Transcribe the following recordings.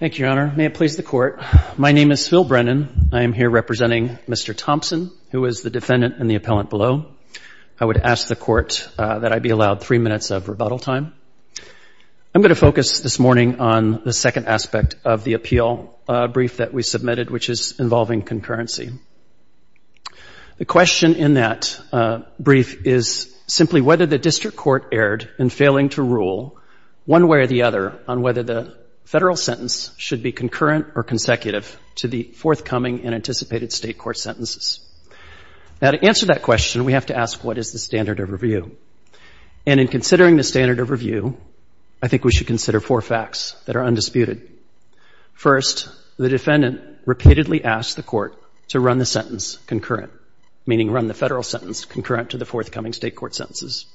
Thank you, Your Honor. May it please the Court. My name is Phil Brennan. I am here representing Mr. Thompson, who is the defendant and the appellant below. I would ask the Court that I be allowed three minutes of rebuttal time. I'm going to focus this morning on the second aspect of the appeal brief that we submitted, which is involving concurrency. The question in that brief is simply whether the district court erred in failing to rule one way or the other on whether the federal sentence should be concurrent or consecutive to the forthcoming and anticipated state court sentences. Now, to answer that question, we have to ask, what is the standard of review? And in considering the standard of review, I think we should consider four facts that are undisputed. First, the defendant repeatedly asked the Court to run the sentence concurrent, meaning run the federal sentence concurrent to the forthcoming state court sentences.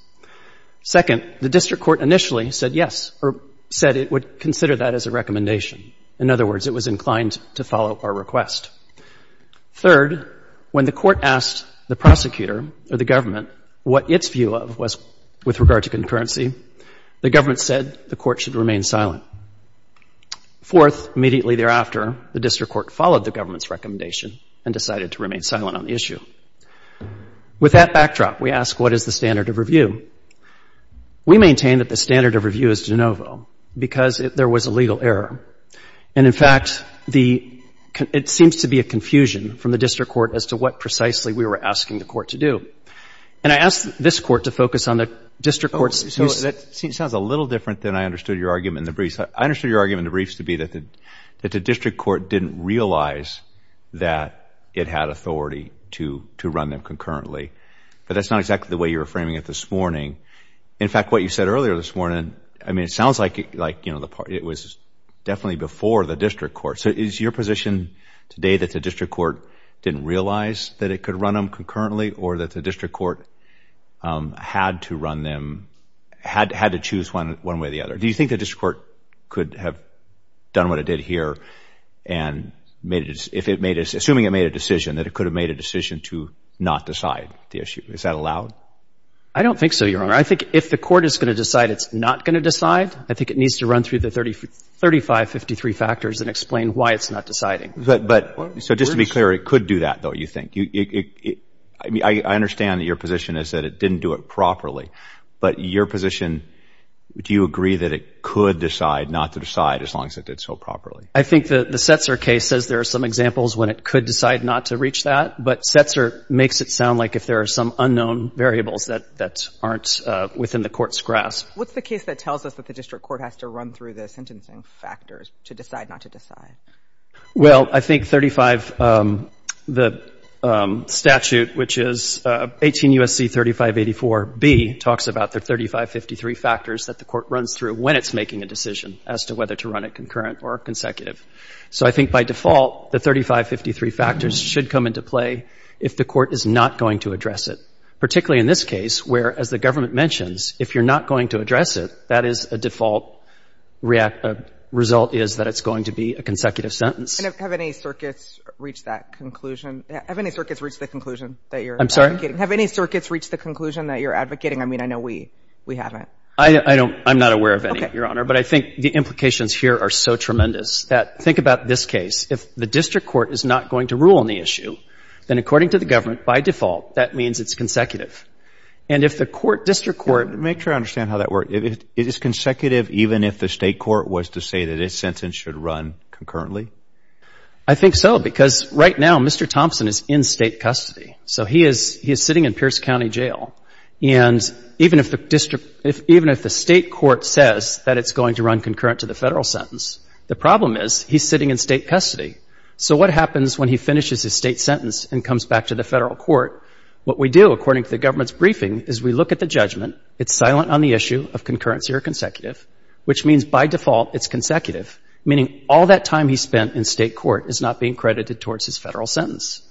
Second, the district court initially said yes, or said it would consider that as a recommendation. In other words, it was inclined to follow our request. Third, when the Court asked the prosecutor or the government what its view of was with regard to concurrency, the government said the Court should remain silent. Fourth, immediately thereafter, the district court followed the government's recommendation and decided to remain silent on the issue. With that backdrop, we ask, what is the standard of review? We maintain that the standard of review is de novo, because there was a legal error. And, in fact, it seems to be a confusion from the district court as to what precisely we were asking the court to do. And I ask this Court to focus on the district court's views. Oh, that sounds a little different than I understood your argument in the briefs. I understood your argument in the briefs to be that the district court didn't realize that it had authority to run them concurrently. But that's not exactly the way you were framing it this morning. In fact, what you said earlier this morning, I mean, it sounds like, you know, it was definitely before the district court. So is your position today that the district court didn't realize that it could run them concurrently or that the district court had to run them, had to choose one way or the other? Do you think the district court could have done what it did here and made it, if it made, assuming it made a decision, that it could have made a decision to not decide the issue? Is that allowed? I don't think so, Your Honor. I think if the court is going to decide it's not going to decide, I think it needs to run through the 3553 factors and explain why it's not deciding. So just to be clear, it could do that, though, you think? I mean, I understand that your position is that it didn't do it properly. But your position, do you agree that it could decide not to decide as long as it did so properly? I think the Setzer case says there are some examples when it could decide not to reach that. But Setzer makes it sound like if there are some unknown variables that aren't within the court's grasp. What's the case that tells us that the district court has to run through the sentencing factors to decide not to decide? Well, I think 35, the statute, which is 18 U.S.C. 3584B, talks about the 3553 factors that the court runs through when it's making a decision as to whether to run it concurrent or consecutive. So I think by default, the 3553 factors should come into play if the court is not going to address it, that is a default result is that it's going to be a consecutive sentence. And have any circuits reached that conclusion? Have any circuits reached the conclusion that you're advocating? Have any circuits reached the conclusion that you're advocating? I mean, I know we haven't. I'm not aware of any, Your Honor. Okay. But I think the implications here are so tremendous that think about this case. If the district court is not going to rule on the issue, then according to the government, by default, that means it's consecutive. And if the court, district court. Make sure I understand how that works. Is it consecutive even if the state court was to say that its sentence should run concurrently? I think so because right now, Mr. Thompson is in state custody. So he is sitting in Pierce County Jail. And even if the district, even if the state court says that it's going to run concurrent to the federal sentence, the problem is he's sitting in state custody. So what happens when he finishes his state sentence and comes back to the federal court? What we do, according to the government's briefing, is we look at the judgment. It's silent on the issue of concurrency or consecutive, which means by default it's consecutive, meaning all that time he spent in state court is not being credited towards his federal sentence.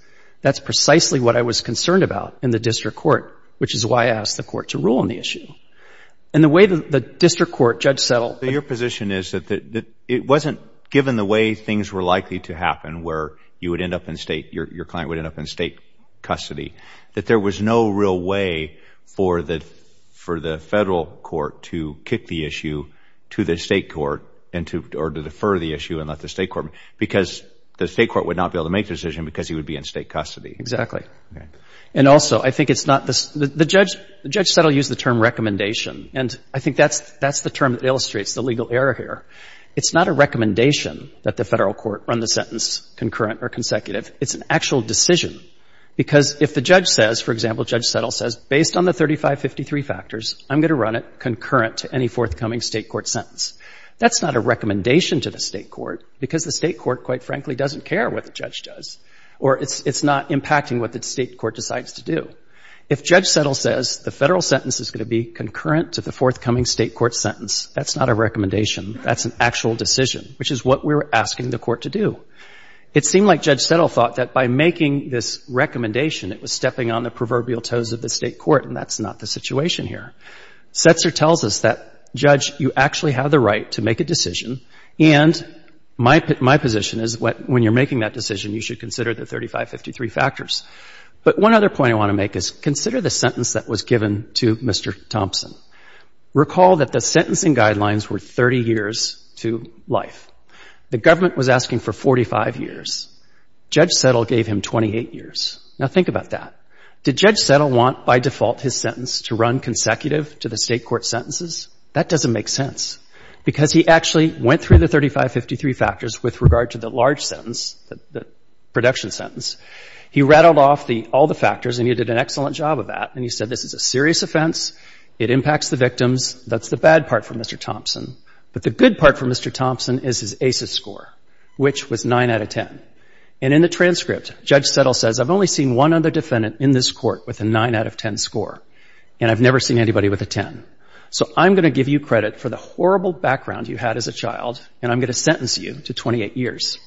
That's precisely what I was concerned about in the district court, which is why I asked the court to rule on the issue. And the way the district court judge settled. Your position is that it wasn't given the way things were likely to happen where you would end up in state, your client would end up in state custody, that there was no real way for the federal court to kick the issue to the state court or to defer the issue and let the state court, because the state court would not be able to make the decision because he would be in state custody. Exactly. And also, I think it's not, the judge said he'll use the term recommendation. And I think that's the term that illustrates the legal error here. It's not a recommendation that the federal court run the sentence concurrent or consecutive. It's an actual decision. Because if the judge says, for example, Judge Settle says, based on the 3553 factors, I'm going to run it concurrent to any forthcoming state court sentence, that's not a recommendation to the state court, because the state court, quite frankly, doesn't care what the judge does or it's not impacting what the state court decides to do. If Judge Settle says the federal sentence is going to be concurrent to the forthcoming state court sentence, that's not a recommendation. That's an actual decision, which is what we're asking the court to do. It seemed like Judge Settle thought that by making this recommendation, it was stepping on the proverbial toes of the state court, and that's not the situation here. Setzer tells us that, Judge, you actually have the right to make a decision, and my position is when you're making that decision, you should consider the 3553 factors. But one other point I want to make is consider the sentence that was given to Mr. Thompson. Recall that the sentencing guidelines were 30 years to life. The government was asking for 45 years. Judge Settle gave him 28 years. Now, think about that. Did Judge Settle want, by default, his sentence to run consecutive to the state court sentences? That doesn't make sense, because he actually went through the 3553 factors with regard to the large sentence, the production sentence. He rattled off all the factors, and he did an excellent job of that, and he said this is a serious offense. It impacts the victims. That's the bad part for Mr. Thompson. But the good part for Mr. Thompson is his ACES score, which was 9 out of 10. And in the transcript, Judge Settle says, I've only seen one other defendant in this court with a 9 out of 10 score, and I've never seen anybody with a 10. So I'm going to give you credit for the horrible background you had as a child, and I'm going to sentence you to 28 years.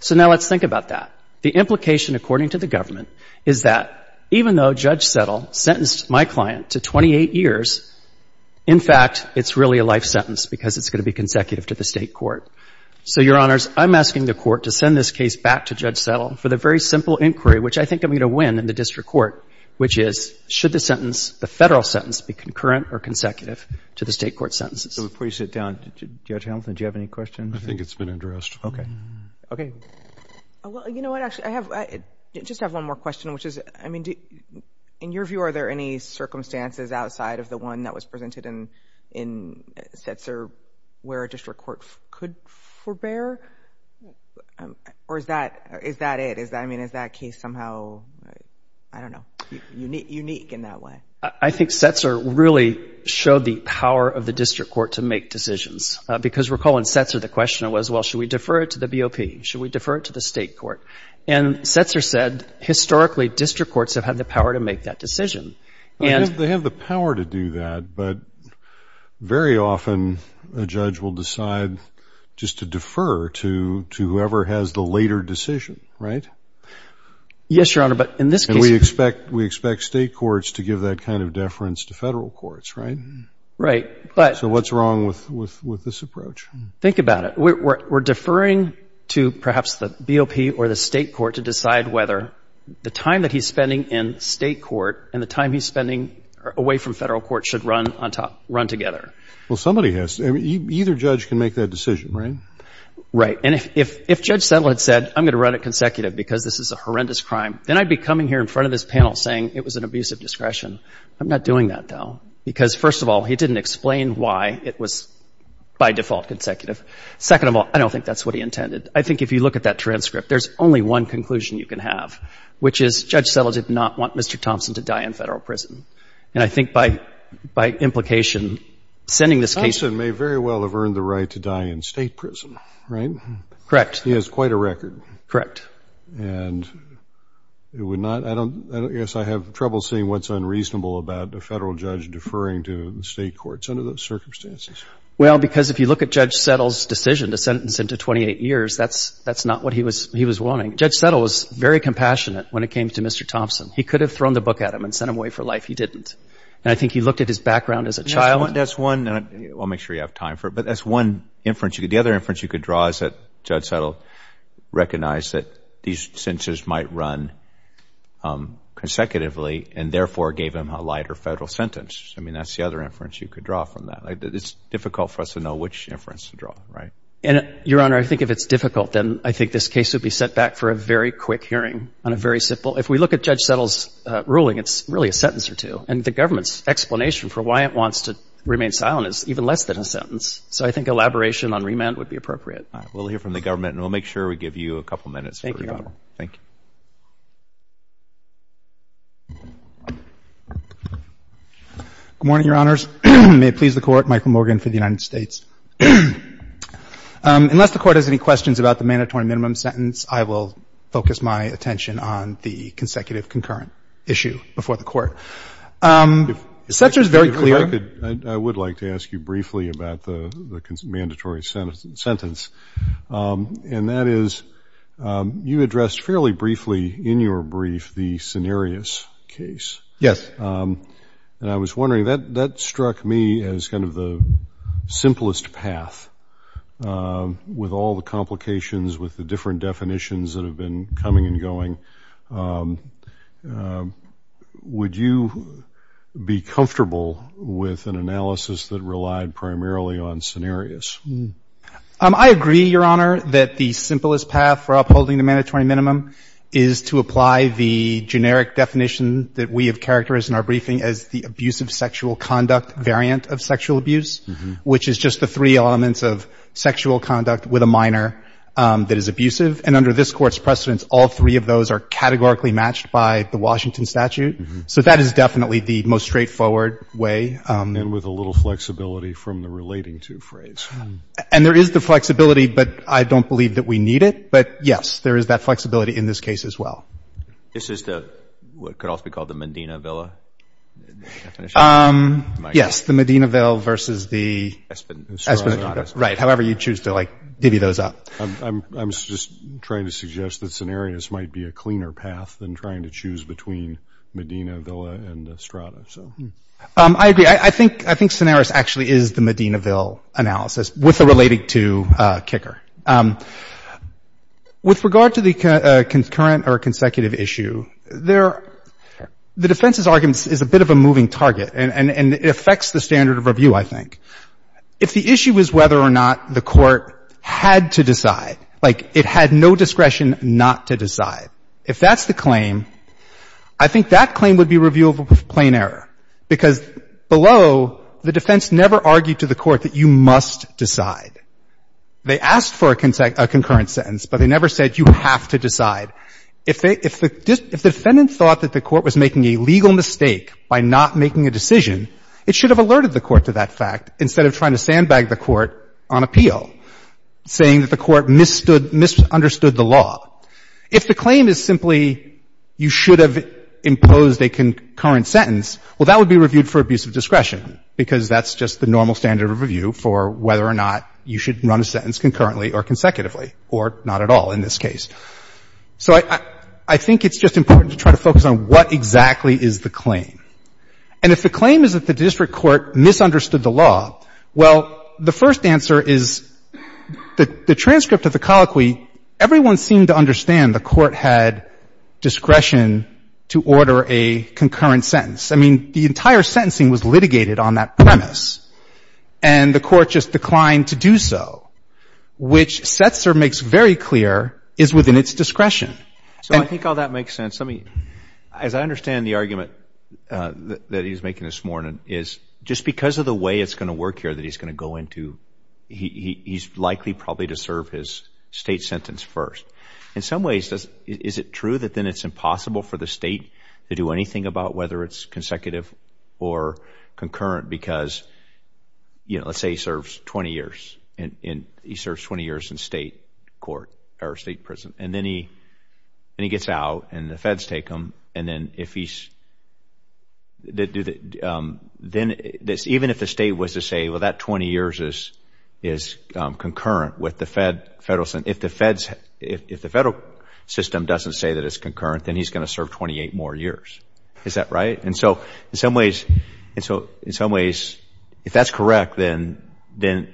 So now let's think about that. The implication, according to the government, is that even though Judge Settle sentenced my client to 28 years, in fact, it's really a life sentence, because it's going to be consecutive to the state court. So, Your Honors, I'm asking the court to send this case back to Judge Settle for the very simple inquiry, which I think I'm going to win in the district court, which is, should the sentence, the Federal sentence, be concurrent or consecutive to the state court sentences? Please sit down. Judge Hamilton, do you have any questions? I think it's been addressed. Okay. Okay. Well, you know what? Actually, I just have one more question, which is, I mean, in your view, are there any circumstances outside of the one that was presented in Setzer where a district court could forbear? Or is that it? I mean, is that case somehow, I don't know, unique in that way? I think Setzer really showed the power of the district court to make decisions, because recall in Setzer the question was, well, should we defer it to the BOP? Should we defer it to the state court? And Setzer said, historically district courts have had the power to make that decision. They have the power to do that, but very often a judge will decide just to defer to whoever has the later decision, right? Yes, Your Honor, but in this case. And we expect state courts to give that kind of deference to Federal courts, right? Right. So what's wrong with this approach? Think about it. We're deferring to perhaps the BOP or the state court to decide whether the time that he's spending in state court and the time he's spending away from Federal court should run together. Well, somebody has to. Either judge can make that decision, right? Right. And if Judge Settle had said, I'm going to run it consecutive because this is a horrendous crime, then I'd be coming here in front of this panel saying it was an abuse of discretion. I'm not doing that, though, because, first of all, he didn't explain why it was by default consecutive. Second of all, I don't think that's what he intended. I think if you look at that transcript, there's only one conclusion you can have, which is Judge Settle did not want Mr. Thompson to die in Federal prison. And I think by implication, sending this case to him. Thompson may very well have earned the right to die in state prison, right? Correct. He has quite a record. Correct. And it would not, I don't, I guess I have trouble seeing what's unreasonable about a Federal judge deferring to the state courts under those circumstances. Well, because if you look at Judge Settle's decision to sentence him to 28 years, that's not what he was wanting. Judge Settle was very compassionate when it came to Mr. Thompson. He could have thrown the book at him and sent him away for life. He didn't. And I think he looked at his background as a child. That's one. I'll make sure you have time for it. But that's one inference. The other inference you could draw is that Judge Settle recognized that these sentences might run consecutively and, therefore, gave him a lighter Federal sentence. I mean, that's the other inference you could draw from that. It's difficult for us to know which inference to draw, right? Your Honor, I think if it's difficult, then I think this case would be set back for a very quick hearing on a very simple If we look at Judge Settle's ruling, it's really a sentence or two. And the government's explanation for why it wants to remain silent is even less than a sentence. So I think elaboration on remand would be appropriate. All right. We'll hear from the government, and we'll make sure we give you a couple minutes for rebuttal. Thank you. Good morning, Your Honors. May it please the Court, Michael Morgan for the United States. Unless the Court has any questions about the mandatory minimum sentence, I will focus my attention on the consecutive concurrent issue before the Court. If I could, I would like to ask you briefly about the mandatory sentence. And that is, you addressed fairly briefly in your brief the scenarios case. Yes. And I was wondering, that struck me as kind of the simplest path, with all the complications with the different definitions that have been coming and going. Would you be comfortable with an analysis that relied primarily on scenarios? I agree, Your Honor, that the simplest path for upholding the mandatory minimum is to apply the generic definition that we have characterized in our briefing as the abusive sexual conduct variant of sexual abuse, which is just the three elements of sexual conduct with a minor that is abusive. And under this Court's precedence, all three of those are categorically matched by the Washington statute. So that is definitely the most straightforward way. And with a little flexibility from the relating to phrase. And there is the flexibility, but I don't believe that we need it. But, yes, there is that flexibility in this case as well. This is the, what could also be called the Medina Villa definition? Yes, the Medina Villa versus the Esplanade. Right, however you choose to divvy those up. I'm just trying to suggest that scenarios might be a cleaner path than trying to choose between Medina Villa and Estrada. I agree. I think scenarios actually is the Medina Villa analysis with the relating to kicker. With regard to the concurrent or consecutive issue, the defense's argument is a bit of a moving target and it affects the standard of review, I think. If the issue is whether or not the Court had to decide, like it had no discretion not to decide, if that's the claim, I think that claim would be reviewable with plain error. Because below, the defense never argued to the Court that you must decide. They asked for a concurrent sentence, but they never said you have to decide. If the defendant thought that the Court was making a legal mistake by not making a decision, it should have alerted the Court to that fact instead of trying to sandbag the Court on appeal, saying that the Court misunderstood the law. If the claim is simply you should have imposed a concurrent sentence, well, that would be reviewed for abusive discretion, because that's just the normal standard of review for whether or not you should run a sentence concurrently or consecutively, or not at all in this case. So I think it's just important to try to focus on what exactly is the claim. And if the claim is that the district court misunderstood the law, well, the first answer is the transcript of the colloquy, everyone seemed to understand the Court had discretion to order a concurrent sentence. I mean, the entire sentencing was litigated on that premise, and the Court just declined to do so, which Setzer makes very clear is within its discretion. And so I think all that makes sense. I mean, as I understand the argument that he's making this morning is just because of the way it's going to work here that he's going to go into, he's likely probably to serve his State sentence first. In some ways, is it true that then it's impossible for the State to do anything about whether it's consecutive or concurrent because, you know, let's say he serves 20 years. He serves 20 years in State court or State prison, and then he gets out, and the feds take him, and then if he's, then even if the State was to say, well, that 20 years is concurrent with the federal sentence, if the feds, if the federal system doesn't say that it's concurrent, then he's going to serve 28 more years. Is that right? And so in some ways, if that's correct, then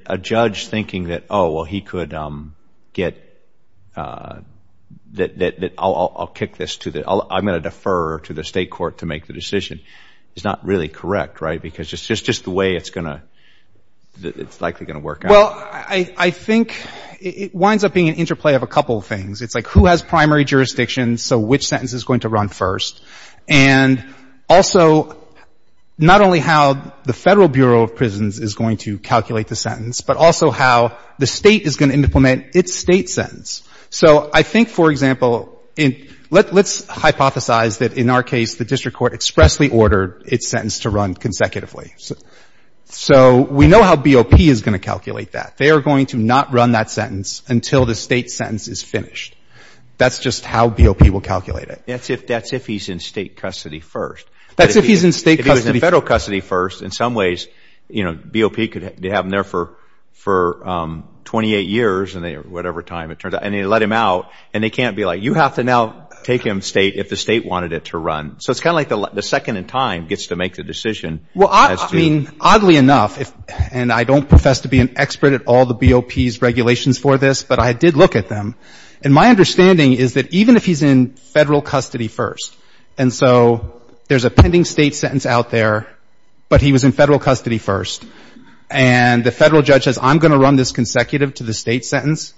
a judge thinking that, oh, well, he could get, that I'll kick this to the, I'm going to defer to the State court to make the decision is not really correct, right, because it's just the way it's going to, it's likely going to work out. Well, I think it winds up being an interplay of a couple of things. It's like who has primary jurisdiction, so which sentence is going to run first, and also not only how the Federal Bureau of Prisons is going to calculate the sentence, but also how the State is going to implement its State sentence. So I think, for example, let's hypothesize that in our case, the district court expressly ordered its sentence to run consecutively. So we know how BOP is going to calculate that. They are going to not run that sentence until the State sentence is finished. That's just how BOP will calculate it. That's if he's in State custody first. That's if he's in State custody first. If he was in Federal custody first, in some ways, you know, BOP could have him there for 28 years, whatever time it turns out, and they let him out, and they can't be like, you have to now take him State if the State wanted it to run. So it's kind of like the second in time gets to make the decision. Well, I mean, oddly enough, and I don't profess to be an expert at all the BOP's regulations for this, but I did look at them. And my understanding is that even if he's in Federal custody first, and so there's a pending State sentence out there, but he was in Federal custody first, and the Federal judge says, I'm going to run this consecutive to the State sentence,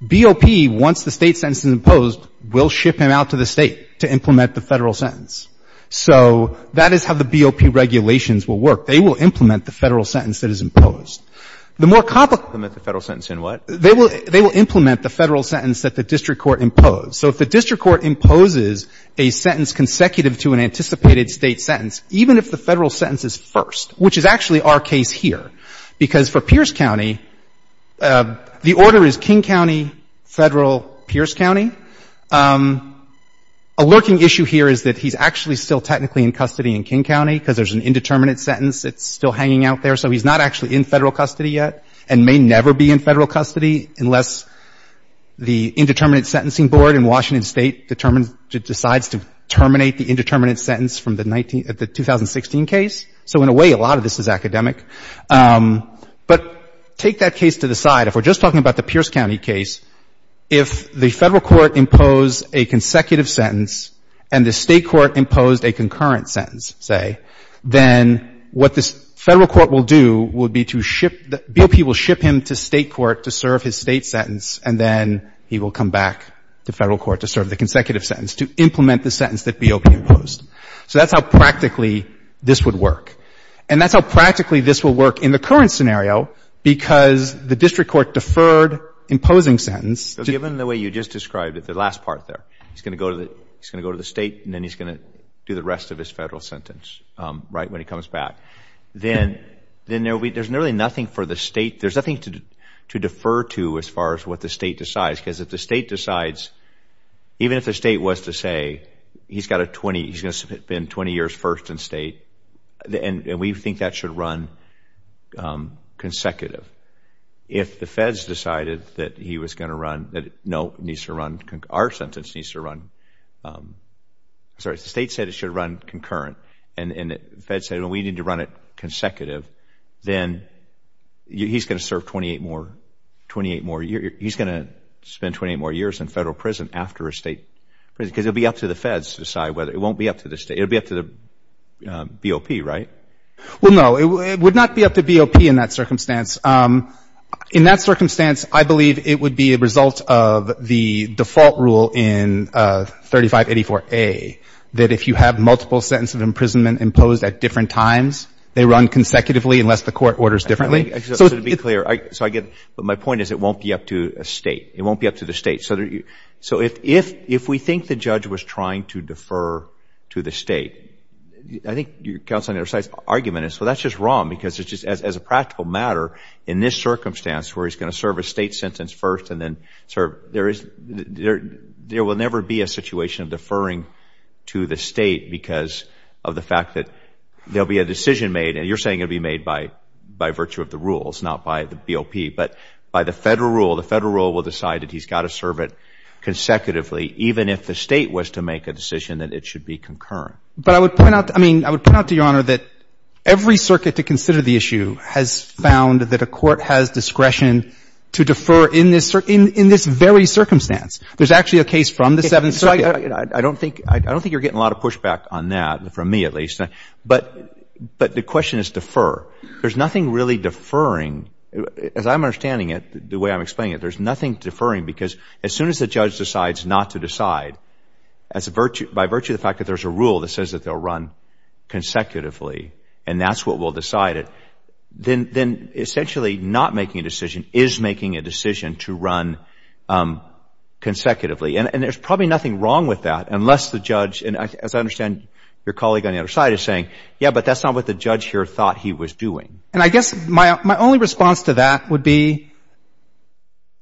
BOP, once the State sentence is imposed, will ship him out to the State to implement the Federal sentence. So that is how the BOP regulations will work. They will implement the Federal sentence that is imposed. The more complicated the Federal sentence in what? They will implement the Federal sentence that the district court imposed. So if the district court imposes a sentence consecutive to an anticipated State sentence, even if the Federal sentence is first, which is actually our case here, because for Pierce County, the order is King County, Federal, Pierce County. A lurking issue here is that he's actually still technically in custody in King County because there's an indeterminate sentence that's still hanging out there. So he's not actually in Federal custody yet and may never be in Federal custody unless the indeterminate sentencing board in Washington State determines or decides to terminate the indeterminate sentence from the 2016 case. So in a way, a lot of this is academic. But take that case to the side. If we're just talking about the Pierce County case, if the Federal court imposed a consecutive sentence and the State court imposed a concurrent sentence, say, then what the Federal court will do would be to ship the BOP will ship him to State court to serve his State sentence, and then he will come back to Federal court to serve the consecutive sentence, to implement the sentence that BOP imposed. So that's how practically this would work. And that's how practically this will work in the current scenario because the district court deferred imposing sentence. So given the way you just described it, the last part there, he's going to go to the State and then he's going to do the rest of his Federal sentence, right, when he comes back. Then there's really nothing for the State, there's nothing to defer to as far as what the State decides because if the State decides, even if the State was to say he's got a 20, he's going to spend 20 years first in State, and we think that should run consecutive. If the Feds decided that he was going to run, that no, it needs to run, our sentence needs to run, sorry, the State said it should run concurrent and the Feds said we need to run it consecutive, then he's going to serve 28 more, he's going to spend 28 more years in Federal prison after a State prison because it will be up to the Feds to decide whether, it won't be up to the State, it will be up to the BOP, right? Well, no, it would not be up to BOP in that circumstance. In that circumstance, I believe it would be a result of the default rule in 3584A that if you have multiple sentences of imprisonment imposed at different times, they run consecutively unless the Court orders differently. So to be clear, so I get it, but my point is it won't be up to a State, it won't be up to the State. So if we think the judge was trying to defer to the State, I think your counsel and your side's argument is, well, that's just wrong because it's just as a practical matter, in this circumstance where he's going to serve a State sentence first and then serve, there will never be a situation of deferring to the State because of the fact that there will be a decision made, and you're saying it will be made by virtue of the rules, not by the BOP, but by the Federal rule, the Federal rule will decide that he's got to serve it consecutively even if the State was to make a decision that it should be concurrent. But I would point out, I mean, I would point out to Your Honor that every circuit to consider the issue has found that a court has discretion to defer in this very circumstance. There's actually a case from the Seventh Circuit. I don't think you're getting a lot of pushback on that, from me at least, but the question is defer. There's nothing really deferring. As I'm understanding it, the way I'm explaining it, there's nothing deferring because as soon as the judge decides not to decide by virtue of the fact that there's a rule that says that they'll run consecutively and that's what will decide it, then essentially not making a decision is making a decision to run consecutively. And there's probably nothing wrong with that unless the judge, and as I understand your colleague on the other side is saying, yeah, but that's not what the judge here thought he was doing. And I guess my only response to that would be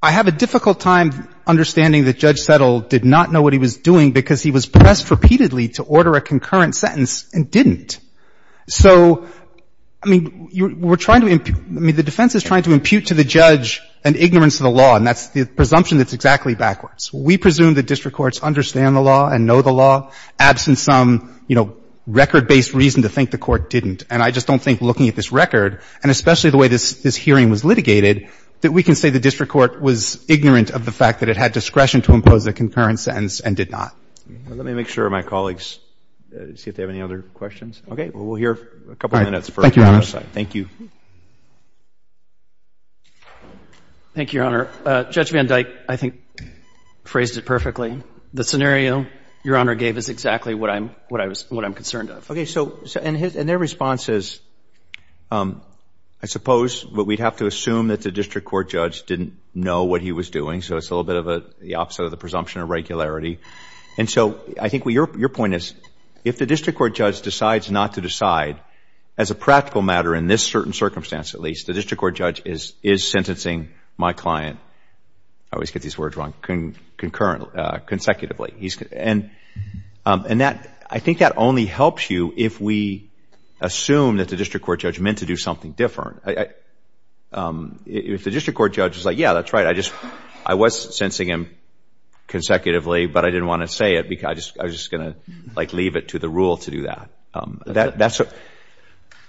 I have a difficult time understanding that Judge Settle did not know what he was doing because he was pressed repeatedly to order a concurrent sentence and didn't. So, I mean, we're trying to impute, I mean, the defense is trying to impute to the judge an ignorance of the law, and that's the presumption that's exactly backwards. We presume the district courts understand the law and know the law, absent some, you know, record-based reason to think the court didn't. And I just don't think looking at this record, and especially the way this hearing was litigated, that we can say the district court was ignorant of the fact that it had discretion to impose a concurrent sentence and did not. Let me make sure my colleagues, see if they have any other questions. Okay. We'll hear a couple of minutes for the other side. Thank you, Your Honor. Thank you. Thank you, Your Honor. Judge Van Dyke, I think, phrased it perfectly. The scenario Your Honor gave is exactly what I'm concerned of. Okay. So, and their response is, I suppose, but we'd have to assume that the district court judge didn't know what he was doing, so it's a little bit of the opposite of the presumption of regularity. And so, I think your point is, if the district court judge decides not to decide, as a practical matter, in this certain circumstance at least, the district court judge is sentencing my client, I always get these words wrong, concurrently, consecutively. And I think that only helps you if we assume that the district court judge meant to do something different. If the district court judge is like, yeah, that's right, I was sensing him consecutively, but I didn't want to say it because I was just going to, like, leave it to the rule to do that.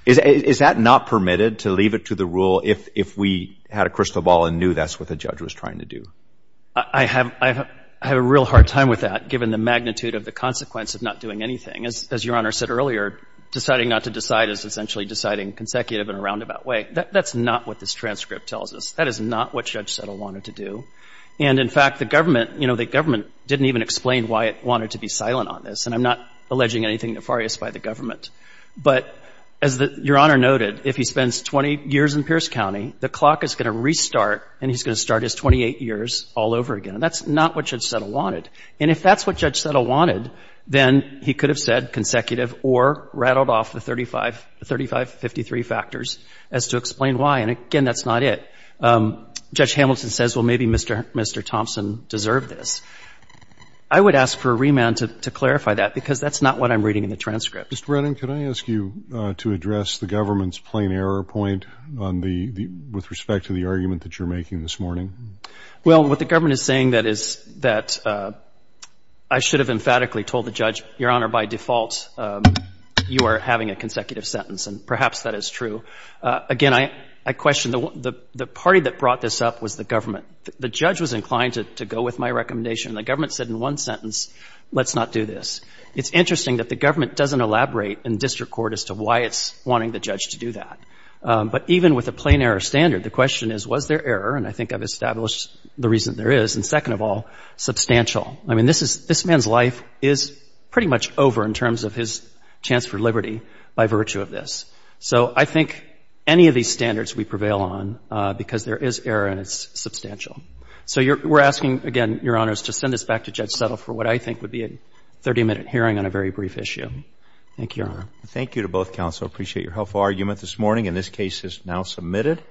Is that not permitted, to leave it to the rule if we had a crystal ball and knew that's what the judge was trying to do? I have a real hard time with that, given the magnitude of the consequence of not doing anything. As your Honor said earlier, deciding not to decide is essentially deciding consecutive in a roundabout way. That's not what this transcript tells us. That is not what Judge Settle wanted to do. And, in fact, the government, you know, the government didn't even explain why it wanted to be silent on this, and I'm not alleging anything nefarious by the But as your Honor noted, if he spends 20 years in Pierce County, the clock is going to restart and he's going to start his 28 years all over again. And that's not what Judge Settle wanted. And if that's what Judge Settle wanted, then he could have said consecutive or rattled off the 35, the 3553 factors as to explain why. And, again, that's not it. Judge Hamilton says, well, maybe Mr. Thompson deserved this. I would ask for a remand to clarify that, because that's not what I'm reading in the transcript. Mr. Brennan, can I ask you to address the government's plain error point on the, with respect to the argument that you're making this morning? Well, what the government is saying that is, that I should have emphatically told the judge, your Honor, by default you are having a consecutive sentence, and perhaps that is true. Again, I question the party that brought this up was the government. The judge was inclined to go with my recommendation, and the government said in one sentence, let's not do this. It's interesting that the government doesn't elaborate in district court as to why it's wanting the judge to do that. But even with a plain error standard, the question is, was there error? And I think I've established the reason there is. And second of all, substantial. I mean, this man's life is pretty much over in terms of his chance for liberty by virtue of this. So I think any of these standards we prevail on, because there is error and it's substantial. So we're asking, again, your Honors, to send this back to Judge Settle for what I think would be a 30-minute hearing on a very brief issue. Thank you, Your Honor. Thank you to both counsel. I appreciate your helpful argument this morning, and this case is now submitted.